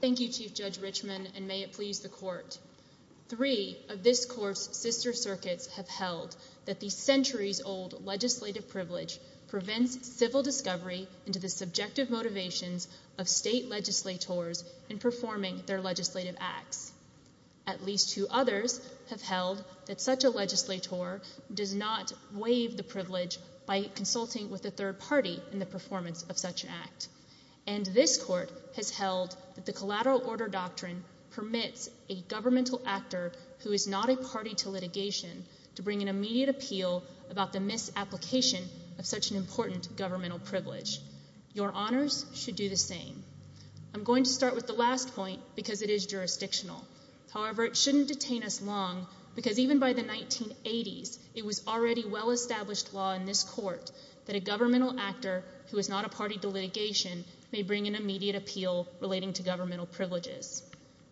Thank you, Chief Judge Richman, and may it please the Court. Three of this Court's sister circuits have held that the centuries-old legislative privilege prevents civil discovery into the subjective motivations of state legislators in performing their legislative acts. At least two others have held that such a legislator does not waive the privilege by consulting with a third party in the performance of such an act. And this Court has held that the Collateral Order Doctrine permits a governmental actor who is not a party to litigation to bring an immediate appeal about the misapplication of such an important governmental privilege. Your Honors should do the same. I'm going to start with the last point because it is jurisdictional. However, it shouldn't detain us long because even by the 1980s, it was already well-established law in this Court that a governmental actor who is not a party to litigation may bring an immediate appeal relating to governmental privileges.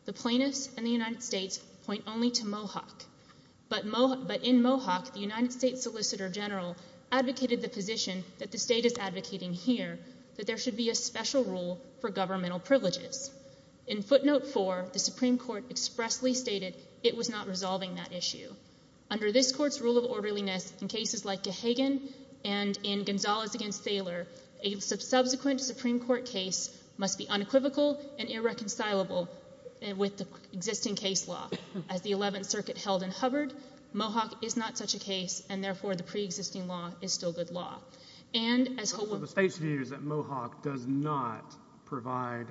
The plaintiffs and the United States point only to Mohawk, but in Mohawk, the United States Solicitor General advocated the position that the state is advocating here, that there should be a special rule for governmental privileges. In Footnote 4, the Supreme Court expressly stated it was not resolving that issue. Under this Court's rule of orderliness, in cases like Gahagan and in Gonzalez v. Thaler, a subsequent Supreme Court case must be unequivocal and irreconcilable with the existing case law. As the Eleventh Circuit held in Hubbard, Mohawk is not such a case, and therefore, the preexisting law is still good law. And as— The State's view is that Mohawk does not provide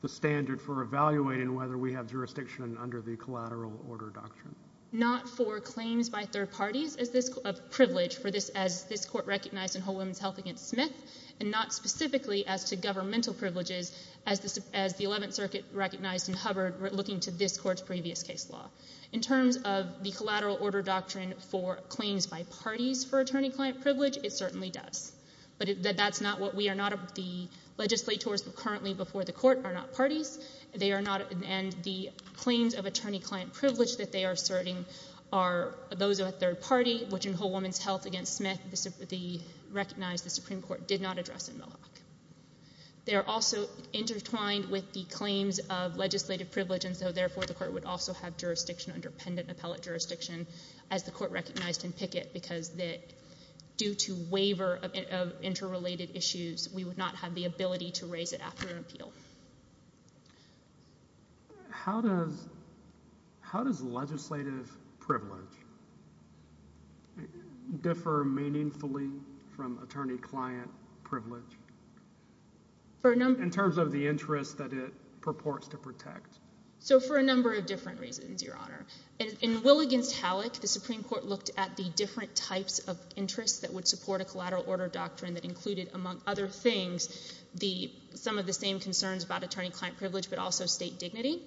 the standard for evaluating whether we have jurisdiction under the collateral order doctrine. Not for claims by third parties as this—of privilege for this—as this Court recognized in Whole Woman's Health v. Smith, and not specifically as to governmental privileges as the Eleventh Circuit recognized in Hubbard looking to this Court's previous case law. In terms of the collateral order doctrine for claims by parties for attorney-client privilege, it certainly does. But that's not what we are not—the legislators currently before the Court are not parties. They are not—and the claims of attorney-client privilege that they are asserting are those of a third party, which in Whole Woman's Health v. Smith, the—recognized the Supreme Court did not address in Mohawk. They are also intertwined with the claims of legislative privilege, and so, therefore, the Court would also have jurisdiction under pendant appellate jurisdiction as the Court recognized in Pickett, because that—due to waiver of interrelated issues, we would not have the ability to raise it after an appeal. How does—how does legislative privilege differ meaningfully from attorney-client privilege? In terms of the interest that it purports to protect. So for a number of different reasons, Your Honor. In Will v. Halleck, the Supreme Court looked at the different types of interests that would the—some of the same concerns about attorney-client privilege, but also state dignity.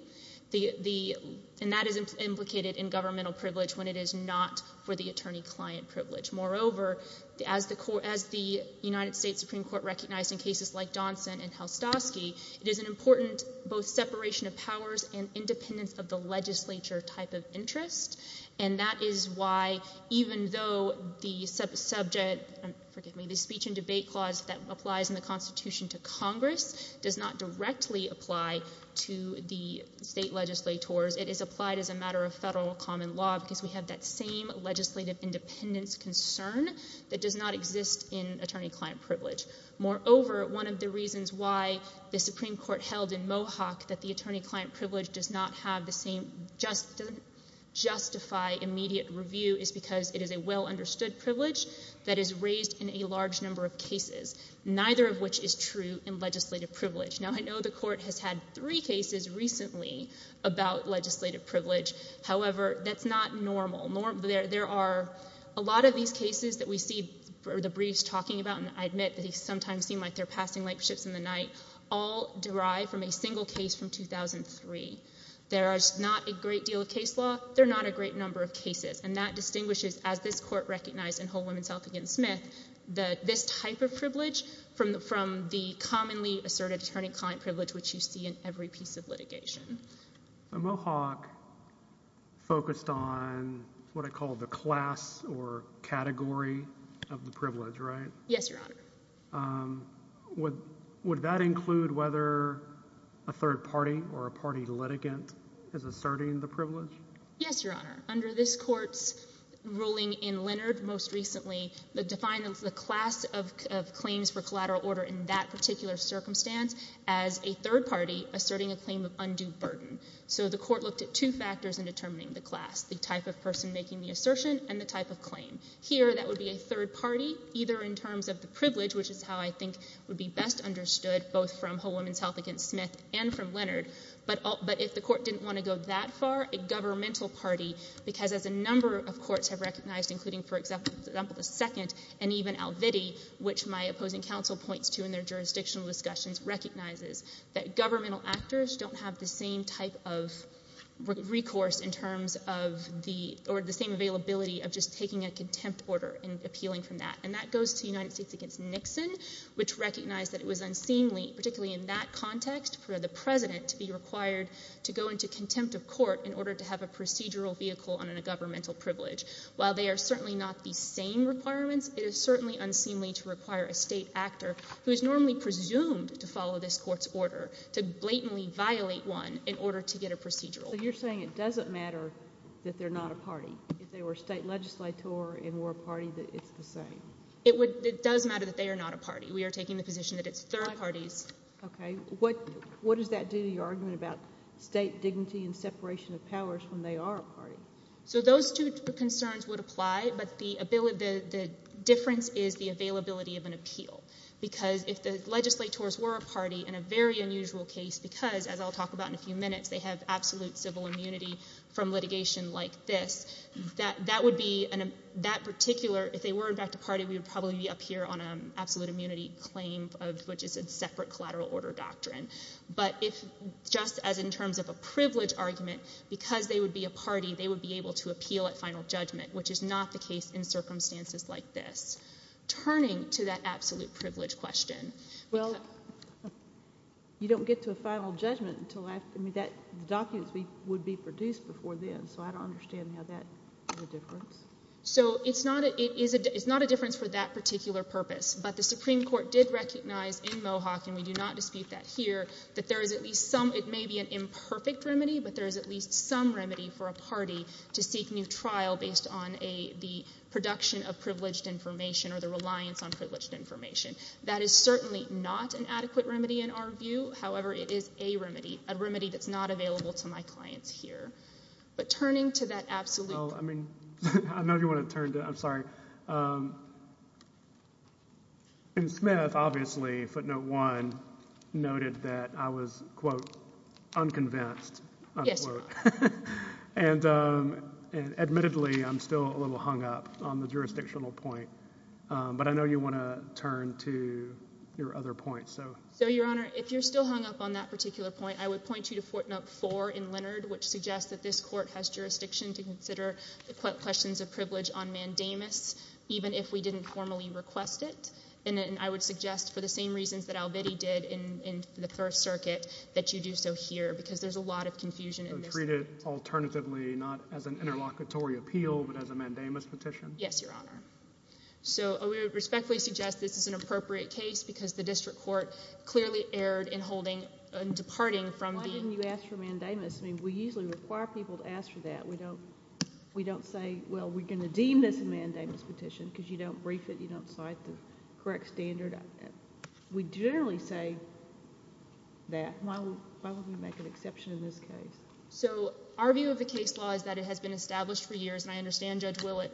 The—and that is implicated in governmental privilege when it is not for the attorney-client privilege. Moreover, as the—as the United States Supreme Court recognized in cases like Donson and Helstovsky, it is an important both separation of powers and independence of the legislature type of interest, and that is why, even though the subject—forgive me—the speech and the Constitution to Congress does not directly apply to the state legislators, it is applied as a matter of federal common law because we have that same legislative independence concern that does not exist in attorney-client privilege. Moreover, one of the reasons why the Supreme Court held in Mohawk that the attorney-client privilege does not have the same just—doesn't justify immediate review is because it is a well-understood privilege that is raised in a large number of cases. Neither of which is true in legislative privilege. Now, I know the Court has had three cases recently about legislative privilege. However, that's not normal. There are a lot of these cases that we see the briefs talking about, and I admit that they sometimes seem like they're passing light ships in the night, all derived from a single case from 2003. There is not a great deal of case law. There are not a great number of cases, and that distinguishes, as this Court recognized in Whole Woman's Health v. Smith, that this type of privilege, from the commonly asserted attorney-client privilege which you see in every piece of litigation. So Mohawk focused on what I call the class or category of the privilege, right? Yes, Your Honor. Would that include whether a third party or a party litigant is asserting the privilege? Yes, Your Honor. Under this Court's ruling in Leonard most recently, the class of claims for collateral order in that particular circumstance as a third party asserting a claim of undue burden. So the Court looked at two factors in determining the class, the type of person making the assertion and the type of claim. Here, that would be a third party, either in terms of the privilege, which is how I think would be best understood, both from Whole Woman's Health v. Smith and from Leonard, but if the Court didn't want to go that far, a governmental party, because as a number of courts have recognized, including, for example, the Second and even Al Vitti, which my opposing counsel points to in their jurisdictional discussions, recognizes that governmental actors don't have the same type of recourse in terms of the, or the same availability of just taking a contempt order and appealing from that. And that goes to United States v. Nixon, which recognized that it was unseemly, particularly in that context, for the President to be required to go into contempt of court in order to have a procedural vehicle on a governmental privilege. While they are certainly not the same requirements, it is certainly unseemly to require a state actor who is normally presumed to follow this Court's order to blatantly violate one in order to get a procedural. So you're saying it doesn't matter that they're not a party? If they were a state legislator and were a party, that it's the same? It would, it does matter that they are not a party. We are taking the position that it's third parties. Okay. What does that do to your argument about state dignity and separation of powers when they are a party? So those two concerns would apply, but the difference is the availability of an appeal. Because if the legislators were a party in a very unusual case, because, as I'll talk about in a few minutes, they have absolute civil immunity from litigation like this, that would be, that particular, if they were in fact a party, we would probably be up here on an absolute immunity claim of, which is a separate collateral order doctrine. But if, just as in terms of a privilege argument, because they would be a party, they would be able to appeal at final judgment, which is not the case in circumstances like this. Turning to that absolute privilege question, well... You don't get to a final judgment until after, I mean, that, the documents would be produced before then, so I don't understand how that makes a difference. So it's not a difference for that particular purpose, but the Supreme Court did recognize in Mohawk, and we do not dispute that here, that there is at least some, it may be an imperfect remedy, but there is at least some remedy for a party to seek new trial based on a, the production of privileged information or the reliance on privileged information. That is certainly not an adequate remedy in our view, however, it is a remedy, a remedy that's not available to my clients here. But turning to that absolute... Well, I mean, I know you want to turn to, I'm sorry. In Smith, obviously, footnote one noted that I was, quote, unconvinced, unquote. And admittedly, I'm still a little hung up on the jurisdictional point. But I know you want to turn to your other point, so... So, Your Honor, if you're still hung up on that particular point, I would point you to the fact that this court has jurisdiction to consider the questions of privilege on mandamus, even if we didn't formally request it, and I would suggest for the same reasons that Alvitti did in the Third Circuit, that you do so here, because there's a lot of confusion in this... So treat it alternatively, not as an interlocutory appeal, but as a mandamus petition? Yes, Your Honor. So I would respectfully suggest this is an appropriate case, because the district court clearly erred in holding, in departing from the... I'll ask for that. We don't... We don't say, well, we're going to deem this a mandamus petition, because you don't brief it, you don't cite the correct standard. We generally say that. Why would we make an exception in this case? So our view of the case law is that it has been established for years, and I understand Judge Willett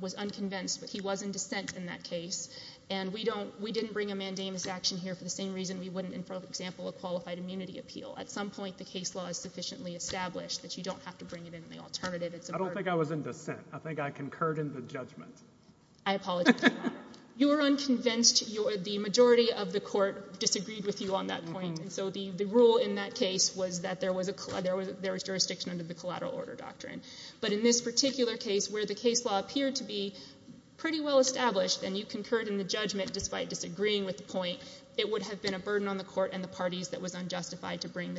was unconvinced, but he was in dissent in that case. And we don't... We didn't bring a mandamus action here for the same reason we wouldn't in front of example a qualified immunity appeal. At some point, the case law is sufficiently established that you don't have to bring it in the alternative. It's a... I don't think I was in dissent. I think I concurred in the judgment. I apologize. You were unconvinced. The majority of the court disagreed with you on that point, and so the rule in that case was that there was jurisdiction under the collateral order doctrine. But in this particular case, where the case law appeared to be pretty well-established and you concurred in the judgment despite disagreeing with the point, it would have been a burden on the court and the parties that was unjustified to bring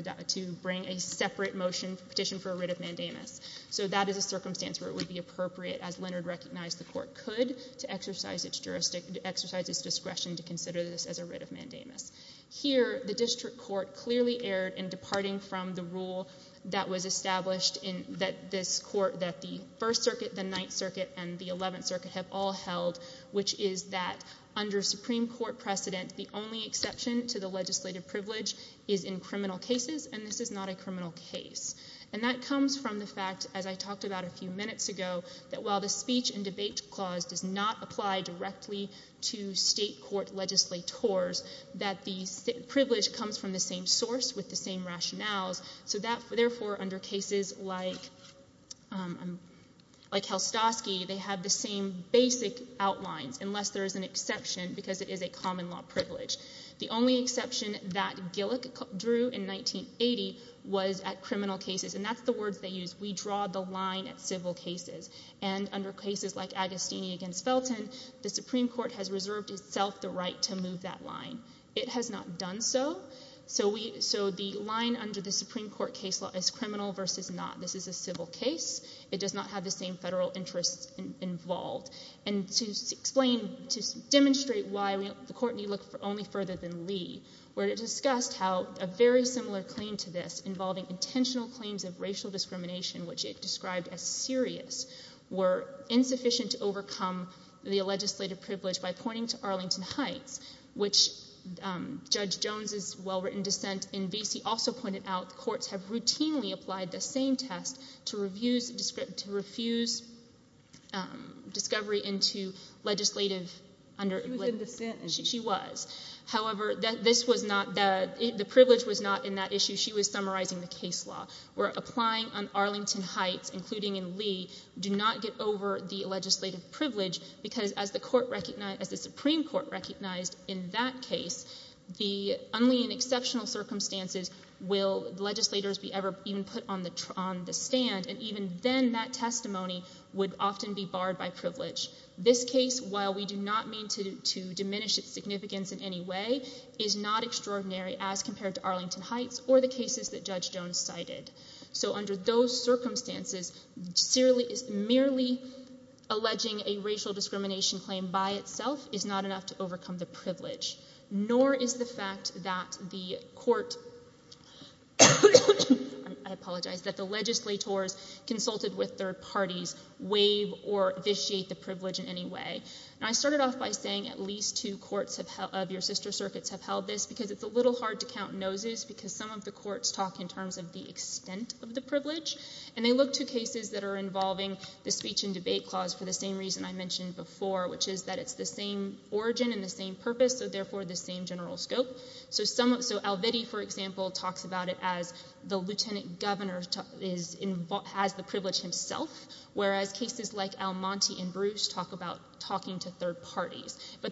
a separate motion, petition for a writ of mandamus. So that is a circumstance where it would be appropriate, as Leonard recognized the court could, to exercise its jurisdiction, to exercise its discretion to consider this as a writ of mandamus. Here, the district court clearly erred in departing from the rule that was established in this court that the First Circuit, the Ninth Circuit, and the Eleventh Circuit have all held, which is that under Supreme Court precedent, the only exception to the legislative privilege is in criminal cases, and this is not a criminal case. And that comes from the fact, as I talked about a few minutes ago, that while the speech and debate clause does not apply directly to state court legislators, that the privilege comes from the same source with the same rationales. So therefore, under cases like Helstosky, they have the same basic outlines, unless there is an exception, because it is a common law privilege. The only exception that Gillick drew in 1980 was at criminal cases, and that's the words they used. We draw the line at civil cases. And under cases like Agostini v. Felton, the Supreme Court has reserved itself the right to move that line. It has not done so. So the line under the Supreme Court case law is criminal versus not. This is a civil case. It does not have the same federal interests involved. And to explain, to demonstrate why the court need look only further than Lee, where it discussed how a very similar claim to this involving intentional claims of racial discrimination, which it described as serious, were insufficient to overcome the legislative privilege by pointing to Arlington Heights, which Judge Jones's well-written dissent in Vesey also pointed out, courts have routinely applied the same test to refuse discovery into legislative under— She was in dissent. She was. However, this was not—the privilege was not in that issue. She was summarizing the case law, where applying on Arlington Heights, including in Lee, do not get over the legislative privilege, because as the Supreme Court recognized in that case, the—only in exceptional circumstances will legislators be ever even put on the stand, and even then that testimony would often be barred by privilege. This case, while we do not mean to diminish its significance in any way, is not extraordinary as compared to Arlington Heights or the cases that Judge Jones cited. So under those circumstances, merely alleging a racial discrimination claim by itself is not enough to overcome the privilege, nor is the fact that the court—I apologize—that the legislators consulted with third parties waive or vitiate the privilege in any way. And I started off by saying at least two courts of your sister circuits have held this, because it's a little hard to count noses, because some of the courts talk in terms of the extent of the privilege, and they look to cases that are involving the speech and debate clause for the same reason I mentioned before, which is that it's the same origin and the same purpose, so therefore the same general scope. So some—so Al Vitti, for example, talks about it as the lieutenant governor is—has the privilege himself, whereas cases like Almonte and Bruce talk about talking to third parties. So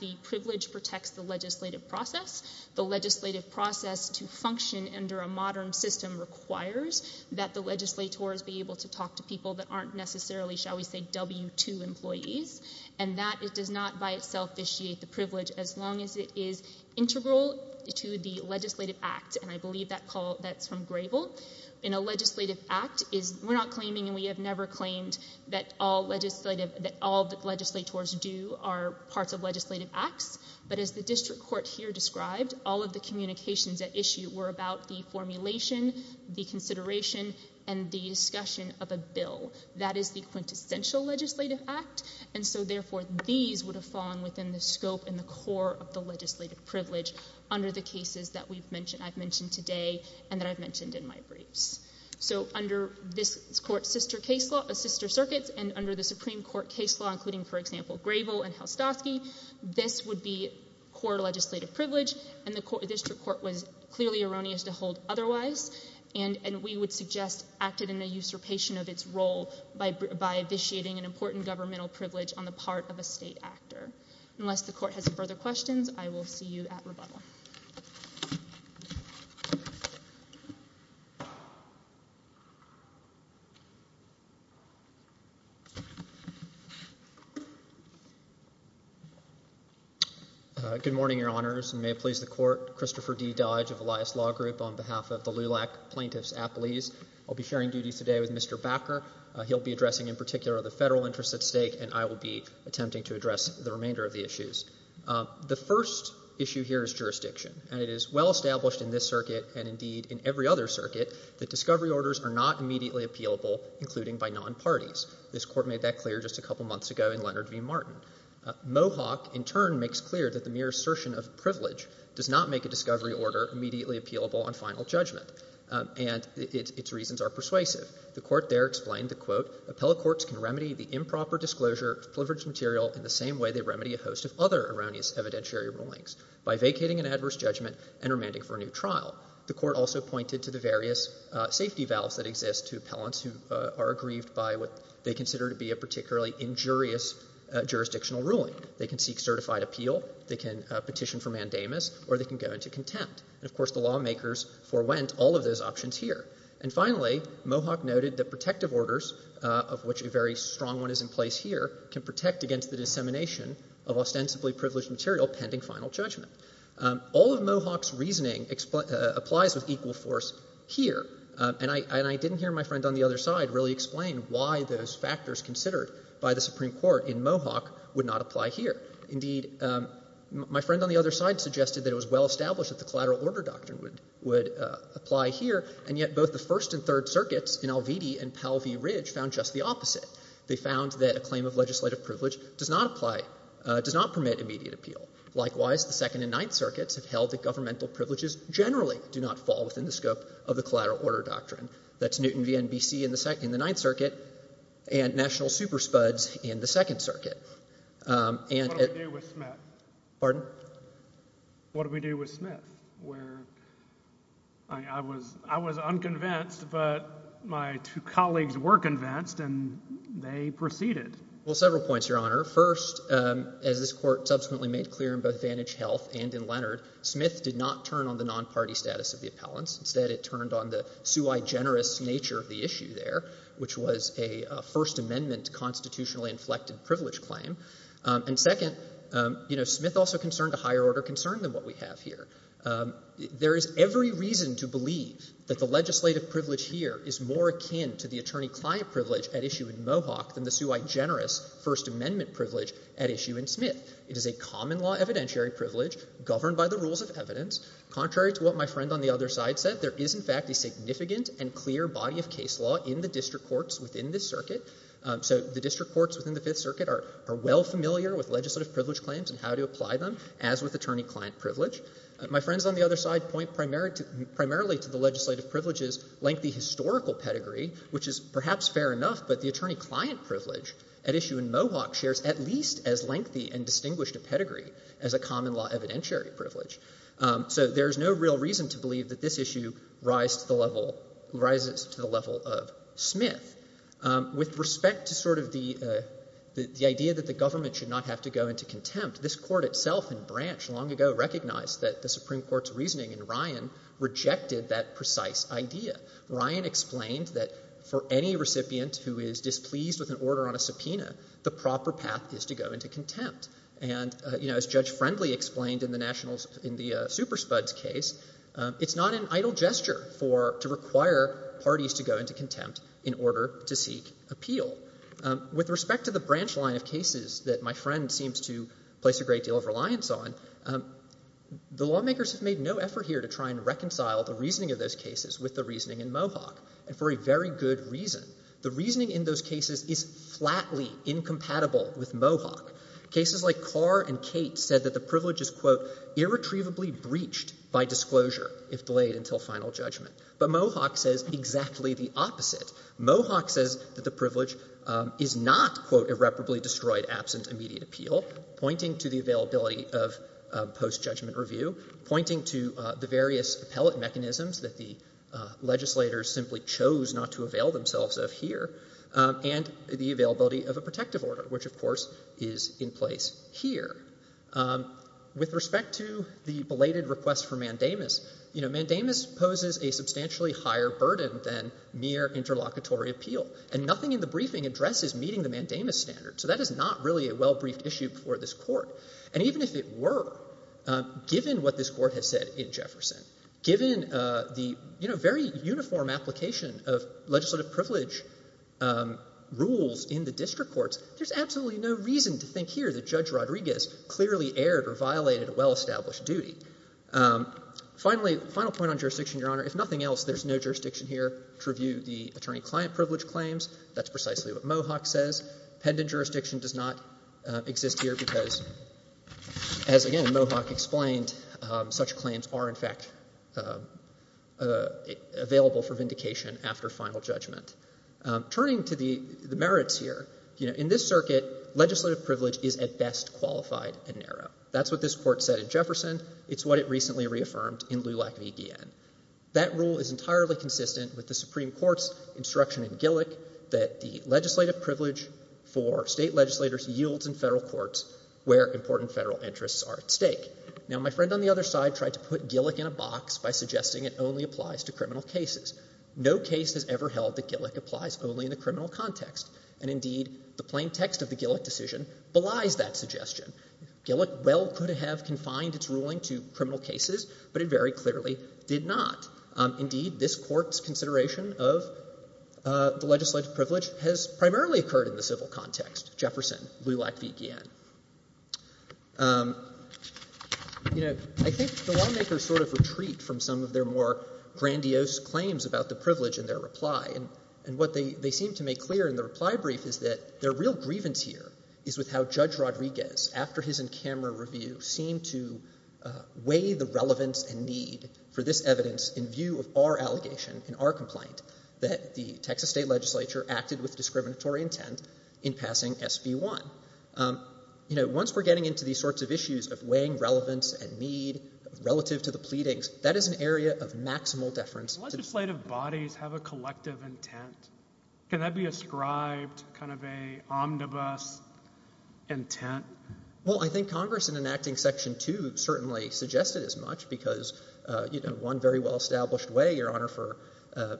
the privilege protects the legislative process. The legislative process to function under a modern system requires that the legislators be able to talk to people that aren't necessarily, shall we say, W-2 employees, and that it does not by itself vitiate the privilege as long as it is integral to the legislative act, and I believe that call—that's from Grable—in a legislative act is—we're not claiming and we have never claimed that all legislative—that all that legislators do are parts of legislative acts, but as the district court here described, all of the communications at issue were about the formulation, the consideration, and the discussion of a bill. That is the quintessential legislative act, and so therefore these would have fallen within the scope and the core of the legislative privilege under the cases that we've mentioned—I've mentioned today and that I've mentioned in my briefs. So under this court's sister case law—sister circuits, and under the Supreme Court case law, including, for example, Grable and Helstovsky—this would be core legislative privilege, and the district court was clearly erroneous to hold otherwise, and we would suggest acted in a usurpation of its role by vitiating an important governmental privilege on the part of a state actor. Unless the court has further questions, I will see you at rebuttal. Good morning, Your Honors, and may it please the Court, Christopher D. Dodge of Elias Law Group on behalf of the LULAC Plaintiffs Appellees. I'll be sharing duties today with Mr. Bakker. He'll be addressing in particular the federal interests at stake, and I will be attempting to address the remainder of the issues. The first issue here is jurisdiction, and it is well established in this circuit and indeed in every other circuit that discovery orders are not immediately appealable, including by non-parties. This Court made that clear just a couple months ago in Leonard v. Martin. Mohawk, in turn, makes clear that the mere assertion of privilege does not make a discovery order immediately appealable on final judgment, and its reasons are persuasive. The Court there explained that, quote, appellate courts can remedy the improper disclosure of privileged material in the same way they remedy a host of other erroneous evidentiary rulings, by vacating an adverse judgment and remanding for a new trial. The Court also pointed to the various safety valves that exist to appellants who are aggrieved by what they consider to be a particularly injurious jurisdictional ruling. They can seek certified appeal, they can petition for mandamus, or they can go into contempt. And of course, the lawmakers forewent all of those options here. And finally, Mohawk noted that protective orders, of which a very strong one is in place here, can protect against the dissemination of ostensibly privileged material pending final judgment. All of Mohawk's reasoning applies with equal force here, and I didn't hear my friend on why those factors considered by the Supreme Court in Mohawk would not apply here. Indeed, my friend on the other side suggested that it was well established that the Collateral Order Doctrine would apply here, and yet both the First and Third Circuits in Al Vidi and Powell v. Ridge found just the opposite. They found that a claim of legislative privilege does not apply, does not permit immediate appeal. Likewise, the Second and Ninth Circuits have held that governmental privileges generally do not fall within the scope of the Collateral Order Doctrine. That's Newton v. NBC in the Ninth Circuit, and national super spuds in the Second Circuit. And— What do we do with Smith? Pardon? What do we do with Smith? Where I was unconvinced, but my two colleagues were convinced, and they proceeded. Well, several points, Your Honor. First, as this Court subsequently made clear in both Vantage Health and in Leonard, Smith did not turn on the non-party status of the appellants. Instead, it turned on the sue-i-generous nature of the issue there, which was a First Amendment constitutionally inflected privilege claim. And second, you know, Smith also concerned a higher order concern than what we have here. There is every reason to believe that the legislative privilege here is more akin to the attorney-client privilege at issue in Mohawk than the sue-i-generous First Amendment privilege at issue in Smith. It is a common law evidentiary privilege governed by the rules of evidence, contrary to what my friend on the other side said. There is, in fact, a significant and clear body of case law in the district courts within this circuit. So the district courts within the Fifth Circuit are well familiar with legislative privilege claims and how to apply them, as with attorney-client privilege. My friends on the other side point primarily to the legislative privilege's lengthy historical pedigree, which is perhaps fair enough, but the attorney-client privilege at issue in Mohawk shares at least as lengthy and distinguished a pedigree as a common law evidentiary privilege. So there is no real reason to believe that this issue rises to the level of Smith. With respect to sort of the idea that the government should not have to go into contempt, this Court itself in Branch long ago recognized that the Supreme Court's reasoning in Ryan rejected that precise idea. Ryan explained that for any recipient who is displeased with an order on a subpoena, the proper path is to go into contempt. And, you know, as Judge Friendly explained in the Superspud's case, it's not an idle gesture to require parties to go into contempt in order to seek appeal. With respect to the branch line of cases that my friend seems to place a great deal of reliance on, the lawmakers have made no effort here to try and reconcile the reasoning of those cases with the reasoning in Mohawk, and for a very good reason. The reasoning in those cases is flatly incompatible with Mohawk. Cases like Carr and Cate said that the privilege is, quote, irretrievably breached by disclosure if delayed until final judgment. But Mohawk says exactly the opposite. Mohawk says that the privilege is not, quote, irreparably destroyed absent immediate appeal, pointing to the availability of post-judgment review, pointing to the various appellate mechanisms that the legislators simply chose not to avail themselves of here, and the availability of a protective order, which, of course, is in place here. With respect to the belated request for mandamus, you know, mandamus poses a substantially higher burden than mere interlocutory appeal. And nothing in the briefing addresses meeting the mandamus standard. So that is not really a well-briefed issue for this Court. And even if it were, given what this Court has said in Jefferson, given the, you know, very uniform application of legislative privilege rules in the district courts, there's absolutely no reason to think here that Judge Rodriguez clearly erred or violated a well-established duty. Finally, final point on jurisdiction, Your Honor, if nothing else, there's no jurisdiction here to review the attorney-client privilege claims. That's precisely what Mohawk says. Pendent jurisdiction does not exist here because, as, again, Mohawk explained, such claims are, in fact, available for vindication after final judgment. Turning to the merits here, you know, in this circuit, legislative privilege is at best qualified and narrow. That's what this Court said in Jefferson. It's what it recently reaffirmed in LULAC v. Guillen. That rule is entirely consistent with the Supreme Court's instruction in Gillick that the legislative privilege for state legislators yields in federal courts where important federal interests are at stake. Now, my friend on the other side tried to put Gillick in a box by suggesting it only applies to criminal cases. No case has ever held that Gillick applies only in the criminal context, and, indeed, the plain text of the Gillick decision belies that suggestion. Gillick well could have confined its ruling to criminal cases, but it very clearly did not. Indeed, this Court's consideration of the legislative privilege has primarily occurred in the civil context. Jefferson, LULAC v. Guillen. You know, I think the lawmakers sort of retreat from some of their more grandiose claims about the privilege in their reply, and what they seem to make clear in the reply brief is that their real grievance here is with how Judge Rodriguez, after his in-camera review, seemed to weigh the relevance and need for this evidence in view of our allegation and our complaint that the Texas State Legislature acted with discriminatory intent in passing SB 1. You know, once we're getting into these sorts of issues of weighing relevance and need relative to the pleadings, that is an area of maximal deference to the State. Legislative bodies have a collective intent. Can that be ascribed kind of a omnibus intent? Well, I think Congress, in enacting Section 2, certainly suggested as much because, you know, a very well-established way, Your Honor, for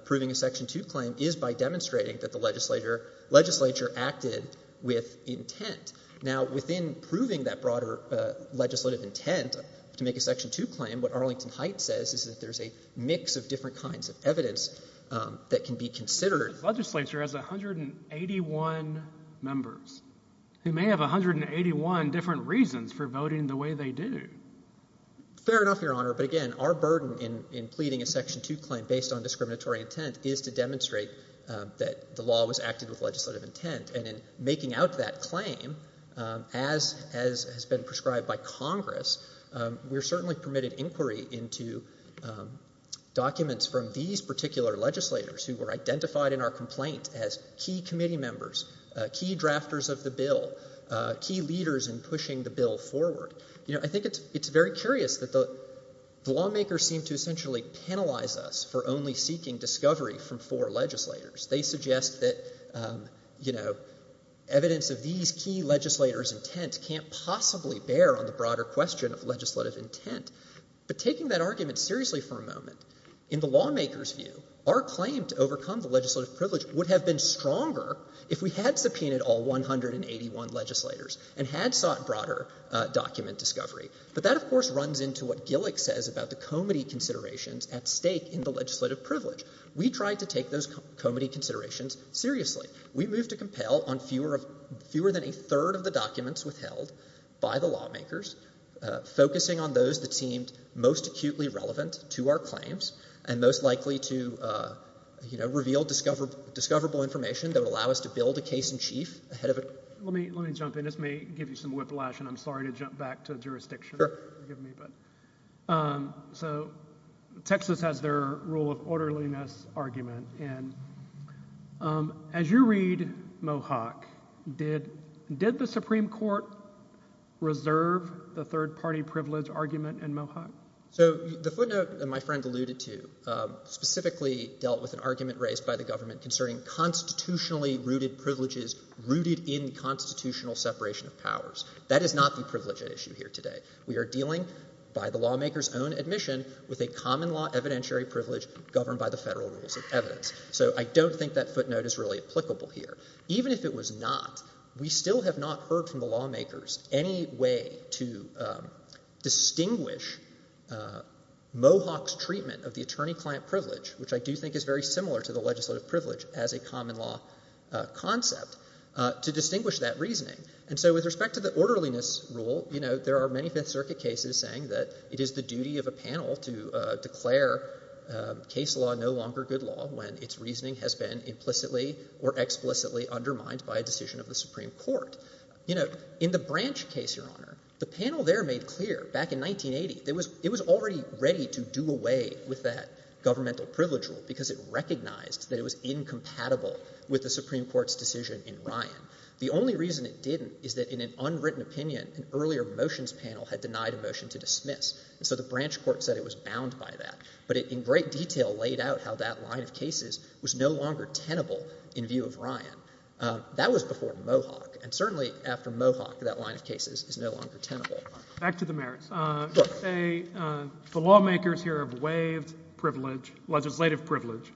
proving a Section 2 claim is by demonstrating that the legislature acted with intent. Now, within proving that broader legislative intent to make a Section 2 claim, what Arlington Heights says is that there's a mix of different kinds of evidence that can be considered. Legislature has 181 members who may have 181 different reasons for voting the way they do. Fair enough, Your Honor. But again, our burden in pleading a Section 2 claim based on discriminatory intent is to demonstrate that the law was acted with legislative intent. And in making out that claim, as has been prescribed by Congress, we're certainly permitted inquiry into documents from these particular legislators who were identified in our complaint as key committee members, key drafters of the bill, key leaders in pushing the bill forward. You know, I think it's very curious that the lawmakers seem to essentially penalize us for only seeking discovery from four legislators. They suggest that, you know, evidence of these key legislators' intent can't possibly bear on the broader question of legislative intent. But taking that argument seriously for a moment, in the lawmakers' view, our claim to overcome the legislative privilege would have been stronger if we had subpoenaed all 181 legislators and had sought broader document discovery. But that, of course, runs into what Gillick says about the committee considerations at stake in the legislative privilege. We tried to take those committee considerations seriously. We moved to compel on fewer than a third of the documents withheld by the lawmakers, focusing on those that seemed most acutely relevant to our claims and most likely to, you know, reveal discoverable information that would allow us to build a case in chief ahead of a court. Let me jump in. This may give you some whiplash, and I'm sorry to jump back to jurisdiction, forgive me. So Texas has their rule of orderliness argument, and as you read Mohawk, did the Supreme Court reserve the third-party privilege argument in Mohawk? So the footnote that my friend alluded to specifically dealt with an argument raised by the government concerning constitutionally-rooted privileges rooted in constitutional separation of powers. That is not the privilege at issue here today. We are dealing, by the lawmakers' own admission, with a common law evidentiary privilege governed by the federal rules of evidence. So I don't think that footnote is really applicable here. Even if it was not, we still have not heard from the lawmakers any way to distinguish Mohawk's treatment of the attorney-client privilege, which I do think is very similar to the legislative privilege as a common law concept, to distinguish that reasoning. And so with respect to the orderliness rule, there are many Fifth Circuit cases saying that it is the duty of a panel to declare case law no longer good law when its reasoning has been implicitly or explicitly undermined by a decision of the Supreme Court. In the Branch case, Your Honor, the panel there made clear back in 1980 it was already ready to do away with that governmental privilege rule because it recognized that it was incompatible with the Supreme Court's decision in Ryan. The only reason it didn't is that in an unwritten opinion, an earlier motions panel had denied a motion to dismiss. And so the Branch court said it was bound by that. But it in great detail laid out how that line of cases was no longer tenable in view of Ryan. That was before Mohawk. And certainly after Mohawk, that line of cases is no longer tenable. Back to the mayors. The lawmakers here have waived privilege, legislative privilege,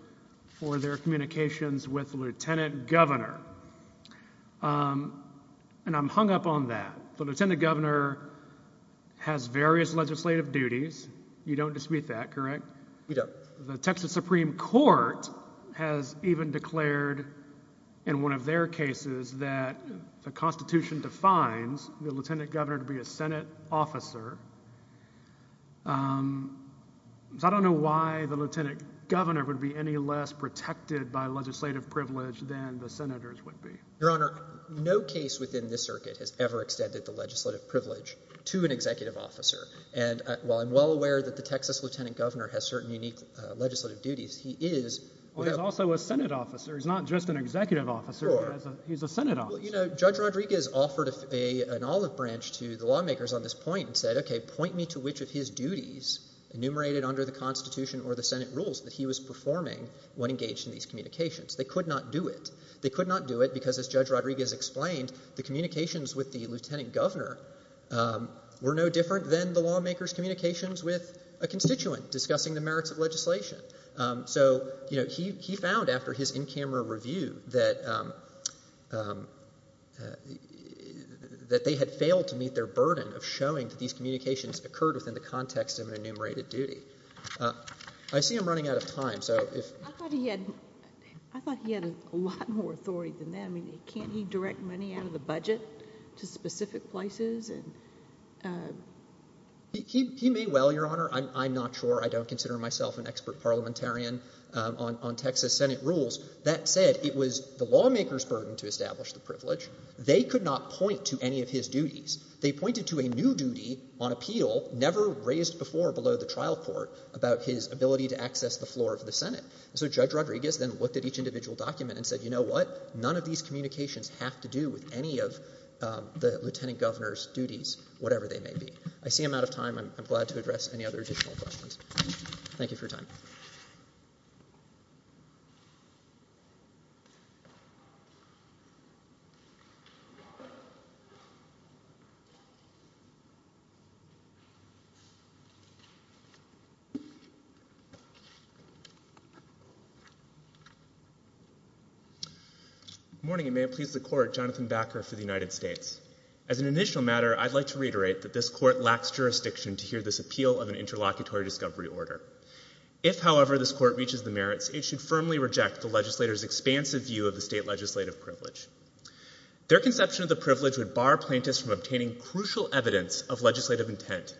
for their communications with Lieutenant Governor. And I'm hung up on that. The Lieutenant Governor has various legislative duties. You don't dispute that, correct? We don't. Your Honor, no case within this circuit has ever extended the legislative privilege to an executive officer. And while I'm well aware that the Texas Lieutenant Governor has certain unique legislative duties, he is also a Senate officer. He's not just an executive officer. He's a Senate officer. Well, you know, Judge Rodriguez offered an olive branch to the lawmakers on this point and said, okay, point me to which of his duties enumerated under the Constitution or the Senate rules that he was performing when engaged in these communications. They could not do it. They could not do it because, as Judge Rodriguez explained, the communications with the Lieutenant Governor were no different than the lawmakers' communications with a constituent discussing the merits of legislation. So, you know, he found after his in-camera review that they had failed to meet their burden of showing that these communications occurred within the context of an enumerated duty. I see I'm running out of time, so if— I thought he had a lot more authority than that. I mean, can't he direct money out of the budget to specific places? He may well, Your Honor. I'm not sure. I don't consider myself an expert parliamentarian on Texas Senate rules. That said, it was the lawmakers' burden to establish the privilege. They could not point to any of his duties. They pointed to a new duty on appeal, never raised before below the trial court, about his ability to access the floor of the Senate. And so Judge Rodriguez then looked at each individual document and said, you know what? None of these communications have to do with any of the Lieutenant Governor's duties, whatever they may be. I see I'm out of time. I'm glad to address any other additional questions. Thank you for your time. Good morning, and may it please the Court, Jonathan Backer for the United States. As an initial matter, I'd like to reiterate that this Court lacks jurisdiction to hear this appeal of an interlocutory discovery order. If, however, this Court reaches the merits, it should firmly reject the legislators' expansive view of the state legislative privilege. Their conception of the privilege would bar plaintiffs from obtaining crucial evidence of legislative intent,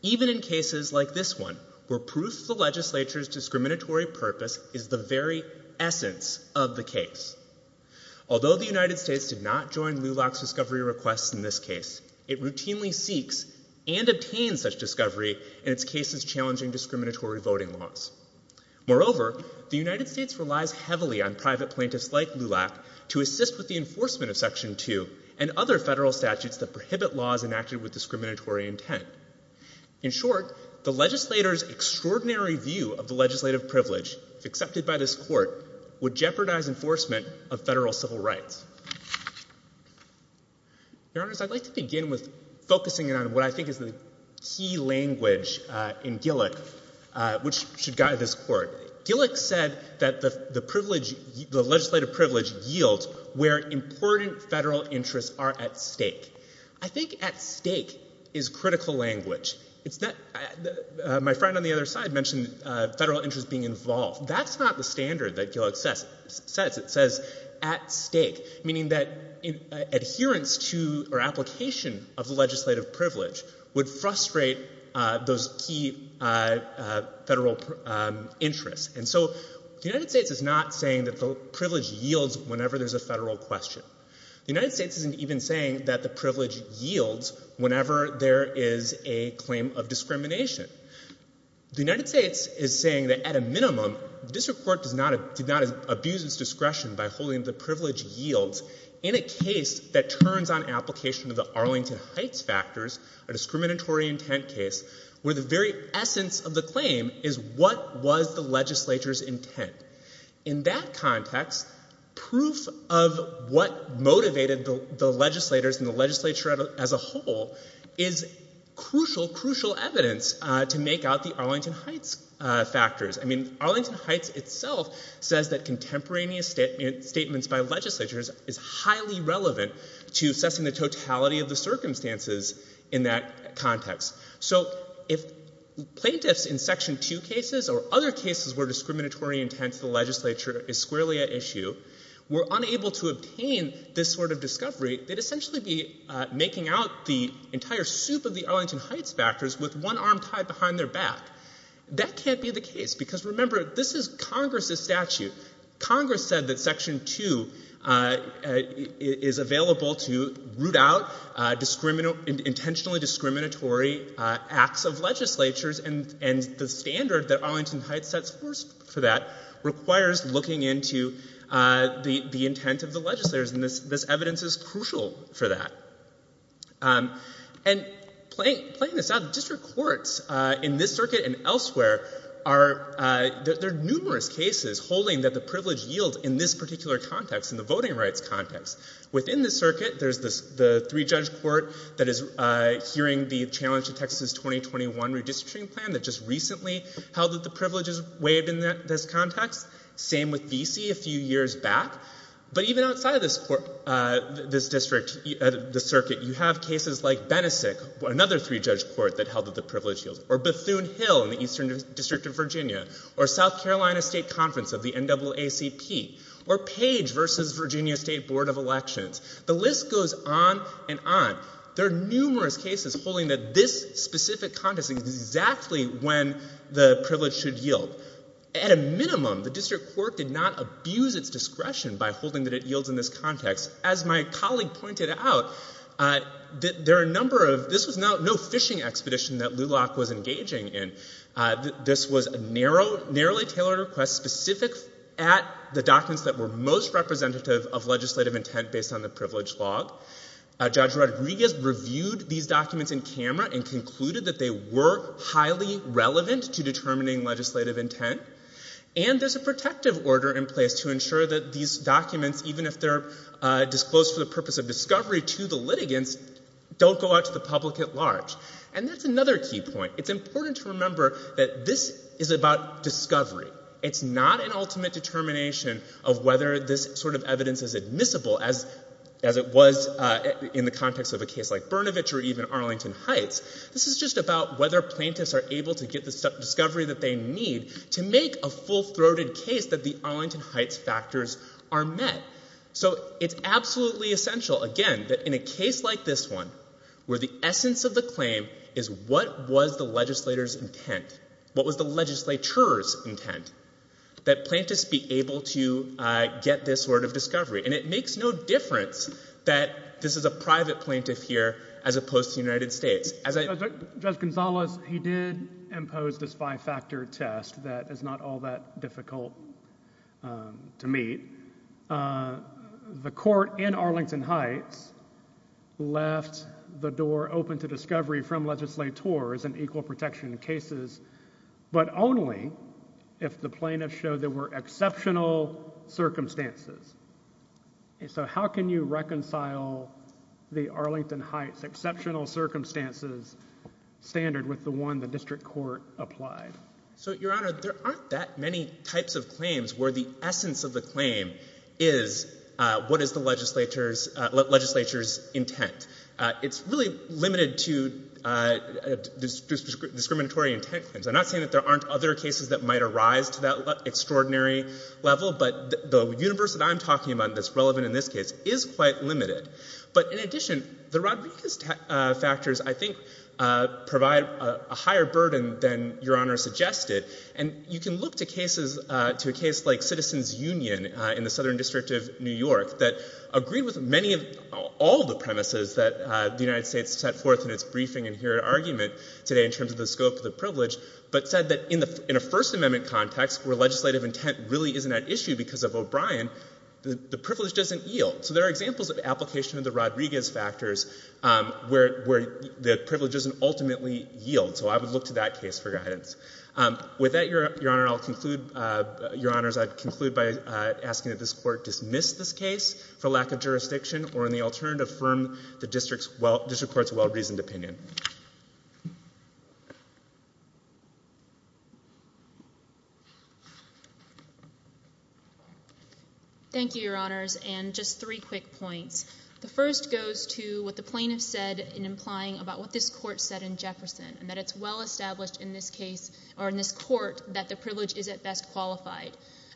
even in cases like this one, where proof of the legislature's discriminatory purpose is the very essence of the case. Although the United States did not join LULAC's discovery requests in this case, it routinely seeks and obtains such discovery in its cases challenging discriminatory voting laws. Moreover, the United States relies heavily on private plaintiffs like LULAC to assist with the enforcement of Section 2 and other federal statutes that prohibit laws enacted with discriminatory intent. In short, the legislators' extraordinary view of the legislative privilege, if accepted by this Court, would jeopardize enforcement of federal civil rights. Your Honors, I'd like to begin with focusing in on what I think is the key language in Gillick which should guide this Court. Gillick said that the privilege, the legislative privilege yields where important federal interests are at stake. I think at stake is critical language. My friend on the other side mentioned federal interests being involved. That's not the standard that Gillick says. It says at stake, meaning that adherence to or application of the legislative privilege would frustrate those key federal interests. And so the United States is not saying that the privilege yields whenever there's a federal question. The United States isn't even saying that the privilege yields whenever there is a claim of discrimination. The United States is saying that at a minimum, the District Court did not abuse its discretion by holding the privilege yields in a case that turns on application of the Arlington Heights factors, a discriminatory intent case, where the very essence of the claim is what was the legislature's intent. In that context, proof of what motivated the legislators and the legislature as a whole is crucial, crucial evidence to make out the Arlington Heights factors. I mean, Arlington Heights itself says that contemporaneous statements by legislatures is highly relevant to assessing the totality of the circumstances in that context. So if plaintiffs in Section 2 cases or other cases where discriminatory intent to the legislature is squarely at issue were unable to obtain this sort of discovery, they'd essentially be making out the entire soup of the Arlington Heights factors with one arm tied behind their back. That can't be the case, because remember, this is Congress's statute. Congress said that Section 2 is available to root out intentionally discriminatory acts of legislatures, and the standard that Arlington Heights sets for that requires looking into the intent of the legislators, and this evidence is crucial for that. And playing this out, district courts in this circuit and elsewhere, there are numerous cases holding that the privilege yields in this particular context, in the voting rights context. Within the circuit, there's the three-judge court that is hearing the challenge to Texas's 2021 redistricting plan that just recently held that the privilege is waived in this context. Same with D.C. a few years back. But even outside of this district, the circuit, you have cases like Benesik, another three-judge court that held that the privilege yields, or Bethune Hill in the Eastern District of Virginia, or South Carolina State Conference of the NAACP, or Page v. Virginia State Board of Elections. The list goes on and on. There are numerous cases holding that this specific context is exactly when the privilege should yield. So, at a minimum, the district court did not abuse its discretion by holding that it yields in this context. As my colleague pointed out, there are a number of—this was no fishing expedition that LULAC was engaging in. This was a narrowly tailored request specific at the documents that were most representative of legislative intent based on the privilege log. Judge Rodriguez reviewed these documents in camera and concluded that they were highly relevant to determining legislative intent, and there's a protective order in place to ensure that these documents, even if they're disclosed for the purpose of discovery to the litigants, don't go out to the public at large. And that's another key point. It's important to remember that this is about discovery. It's not an ultimate determination of whether this sort of evidence is admissible, as it was in the context of a case like Bernovich or even Arlington Heights. This is just about whether plaintiffs are able to get the discovery that they need to make a full-throated case that the Arlington Heights factors are met. So it's absolutely essential, again, that in a case like this one, where the essence of the claim is what was the legislator's intent, what was the legislature's intent, that plaintiffs be able to get this sort of discovery. And it makes no difference that this is a private plaintiff here as opposed to the United States. Judge Gonzales, he did impose this five-factor test that is not all that difficult to meet. The court in Arlington Heights left the door open to discovery from legislators in equal protection cases, but only if the plaintiffs showed there were exceptional circumstances. And so how can you reconcile the Arlington Heights exceptional circumstances standard with the one the district court applied? So Your Honor, there aren't that many types of claims where the essence of the claim is what is the legislature's intent. It's really limited to discriminatory intent claims. I'm not saying that there aren't other cases that might arise to that extraordinary level, but the universe that I'm talking about that's relevant in this case is quite limited. But in addition, the Rodriguez factors, I think, provide a higher burden than Your Honor suggested. And you can look to cases, to a case like Citizens Union in the Southern District of New York that agreed with many of all the premises that the United States set forth in its briefing and here argument today in terms of the scope of the privilege, but said that in a First Amendment context where legislative intent really isn't at issue because of O'Brien, the privilege doesn't yield. So there are examples of application of the Rodriguez factors where the privilege doesn't ultimately yield. So I would look to that case for guidance. With that, Your Honor, I'll conclude, Your Honors, I'd conclude by asking that this court dismiss this case for lack of jurisdiction or, in the alternative, affirm the district court's well-reasoned opinion. Thank you, Your Honors, and just three quick points. The first goes to what the plaintiff said in implying about what this court said in Jefferson and that it's well-established in this case or in this court that the privilege is at best qualified.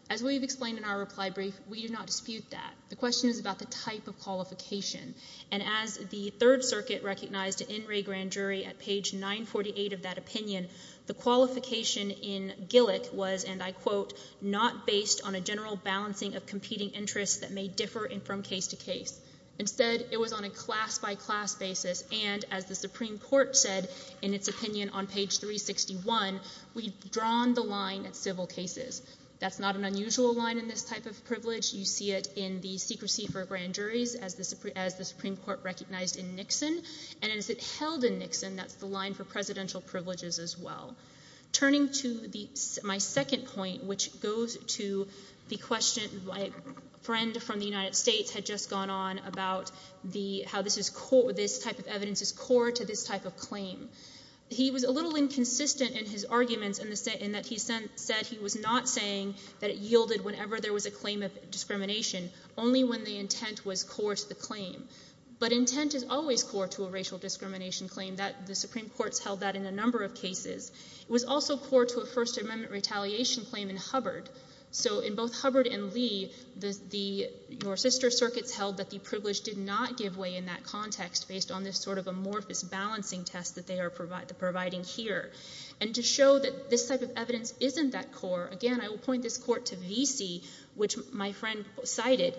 As we've explained in our reply brief, we do not dispute that. The question is about the type of qualification. And as the Third Circuit recognized in Wray Grand Jury at page 948 of that opinion, the qualification in Gillick was, and I quote, not based on a general balancing of competing interests that may differ from case to case. Instead, it was on a class-by-class basis, and as the Supreme Court said in its opinion on page 361, we've drawn the line at civil cases. You see it in the secrecy for grand juries, as the Supreme Court recognized in Nixon, and as it held in Nixon, that's the line for presidential privileges as well. Turning to my second point, which goes to the question my friend from the United States had just gone on about how this type of evidence is core to this type of claim. He was a little inconsistent in his arguments in that he said he was not saying that it was core to racial discrimination only when the intent was core to the claim. But intent is always core to a racial discrimination claim. The Supreme Court's held that in a number of cases. It was also core to a First Amendment retaliation claim in Hubbard. So in both Hubbard and Lee, your sister circuits held that the privilege did not give way in that context based on this sort of amorphous balancing test that they are providing here. And to show that this type of evidence isn't that core, again, I will point this court to Vesey, which my friend cited.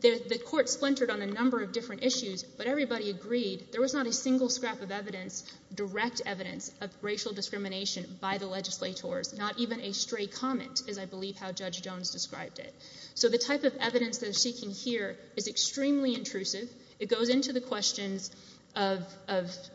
The court splintered on a number of different issues, but everybody agreed there was not a single scrap of evidence, direct evidence, of racial discrimination by the legislators, not even a stray comment, as I believe how Judge Jones described it. So the type of evidence they're seeking here is extremely intrusive. It goes into the questions of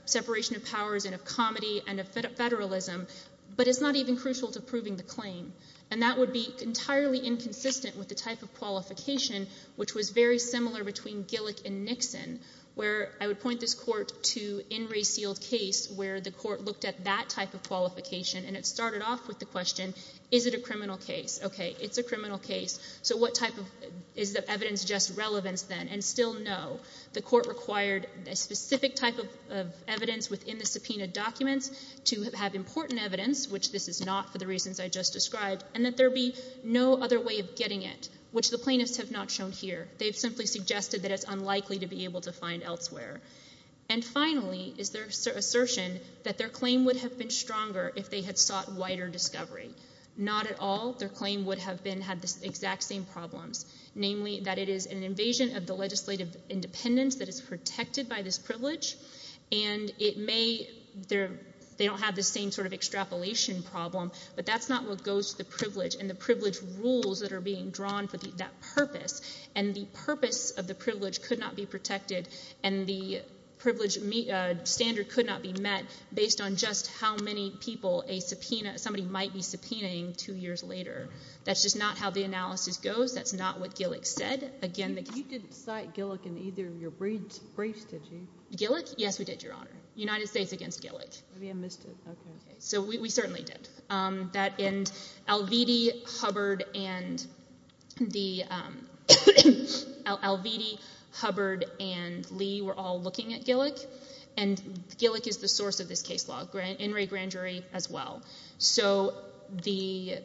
separation of powers and of comedy and of federalism, but it's not even crucial to proving the claim. And that would be entirely inconsistent with the type of qualification which was very similar between Gillick and Nixon, where I would point this court to In Re Sealed Case, where the court looked at that type of qualification and it started off with the question, is it a criminal case? Okay, it's a criminal case. So what type of, is the evidence just relevance then? And still no. The court required a specific type of evidence within the subpoenaed documents to have important evidence, which this is not for the reasons I just described, and that there be no other way of getting it, which the plaintiffs have not shown here. They've simply suggested that it's unlikely to be able to find elsewhere. And finally is their assertion that their claim would have been stronger if they had sought wider discovery. Not at all. Their claim would have been, had the exact same problems, namely that it is an invasion of the legislative independence that is protected by this privilege, and it may, they don't have the same sort of extrapolation problem, but that's not what goes to the privilege and the privilege rules that are being drawn for that purpose. And the purpose of the privilege could not be protected, and the privilege standard could not be met based on just how many people a subpoena, somebody might be subpoenaing two years later. That's just not how the analysis goes. That's not what Gillick said. Again, the case You didn't cite Gillick in either of your briefs, did you? Gillick? Yes, we did, Your Honor. United States against Gillick. Maybe I missed it. Okay. So we certainly did. That, and Alviti, Hubbard, and the, Alviti, Hubbard, and Lee were all looking at Gillick, and Gillick is the source of this case law, In re Grand Jury as well. So the,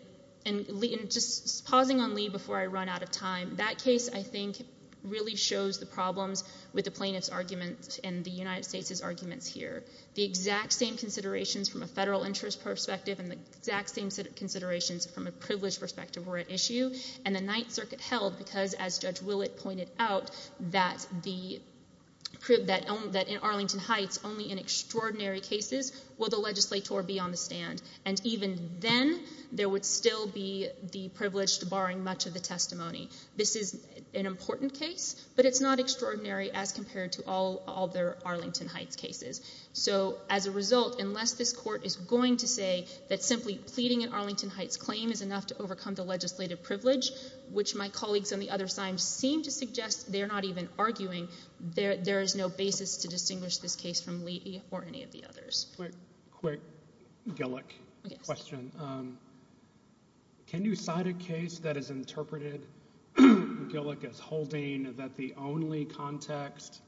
and Lee, and just pausing on Lee before I run out of time, that case I think really shows the problems with the plaintiff's arguments and the United States' arguments here. The exact same considerations from a federal interest perspective and the exact same considerations from a privileged perspective were at issue, and the Ninth Circuit held because, as Judge Willett pointed out, that the, that in Arlington Heights, only in extraordinary cases will the legislator be on the stand, and even then, there would still be the privileged barring much of the testimony. This is an important case, but it's not extraordinary as compared to all other Arlington Heights cases. So as a result, unless this court is going to say that simply pleading in Arlington Heights claim is enough to overcome the legislative privilege, which my colleagues on the other side seem to suggest they're not even arguing, there, there is no basis to distinguish this case from Lee or any of the others. Quick, quick Gillick question. Can you cite a case that is interpreted, Gillick is holding, that the only context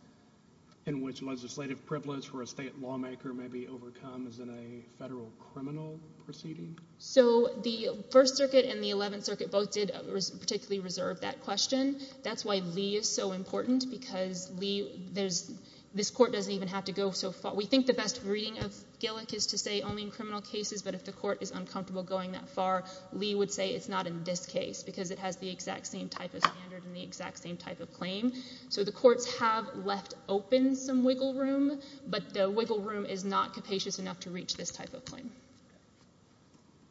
in which legislative privilege for a state lawmaker may be overcome is in a federal criminal proceeding? So the First Circuit and the Eleventh Circuit both did particularly reserve that question. That's why Lee is so important, because Lee, there's, this court doesn't even have to go so far. We think the best reading of Gillick is to say only in criminal cases, but if the court is uncomfortable going that far, Lee would say it's not in this case, because it has So the courts have left open some wiggle room, but the wiggle room is not capacious enough to reach this type of claim.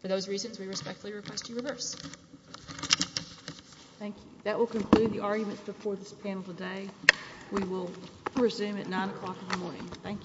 For those reasons, we respectfully request you reverse. Thank you. That will conclude the arguments before this panel today. We will resume at 9 o'clock in the morning. Thank you.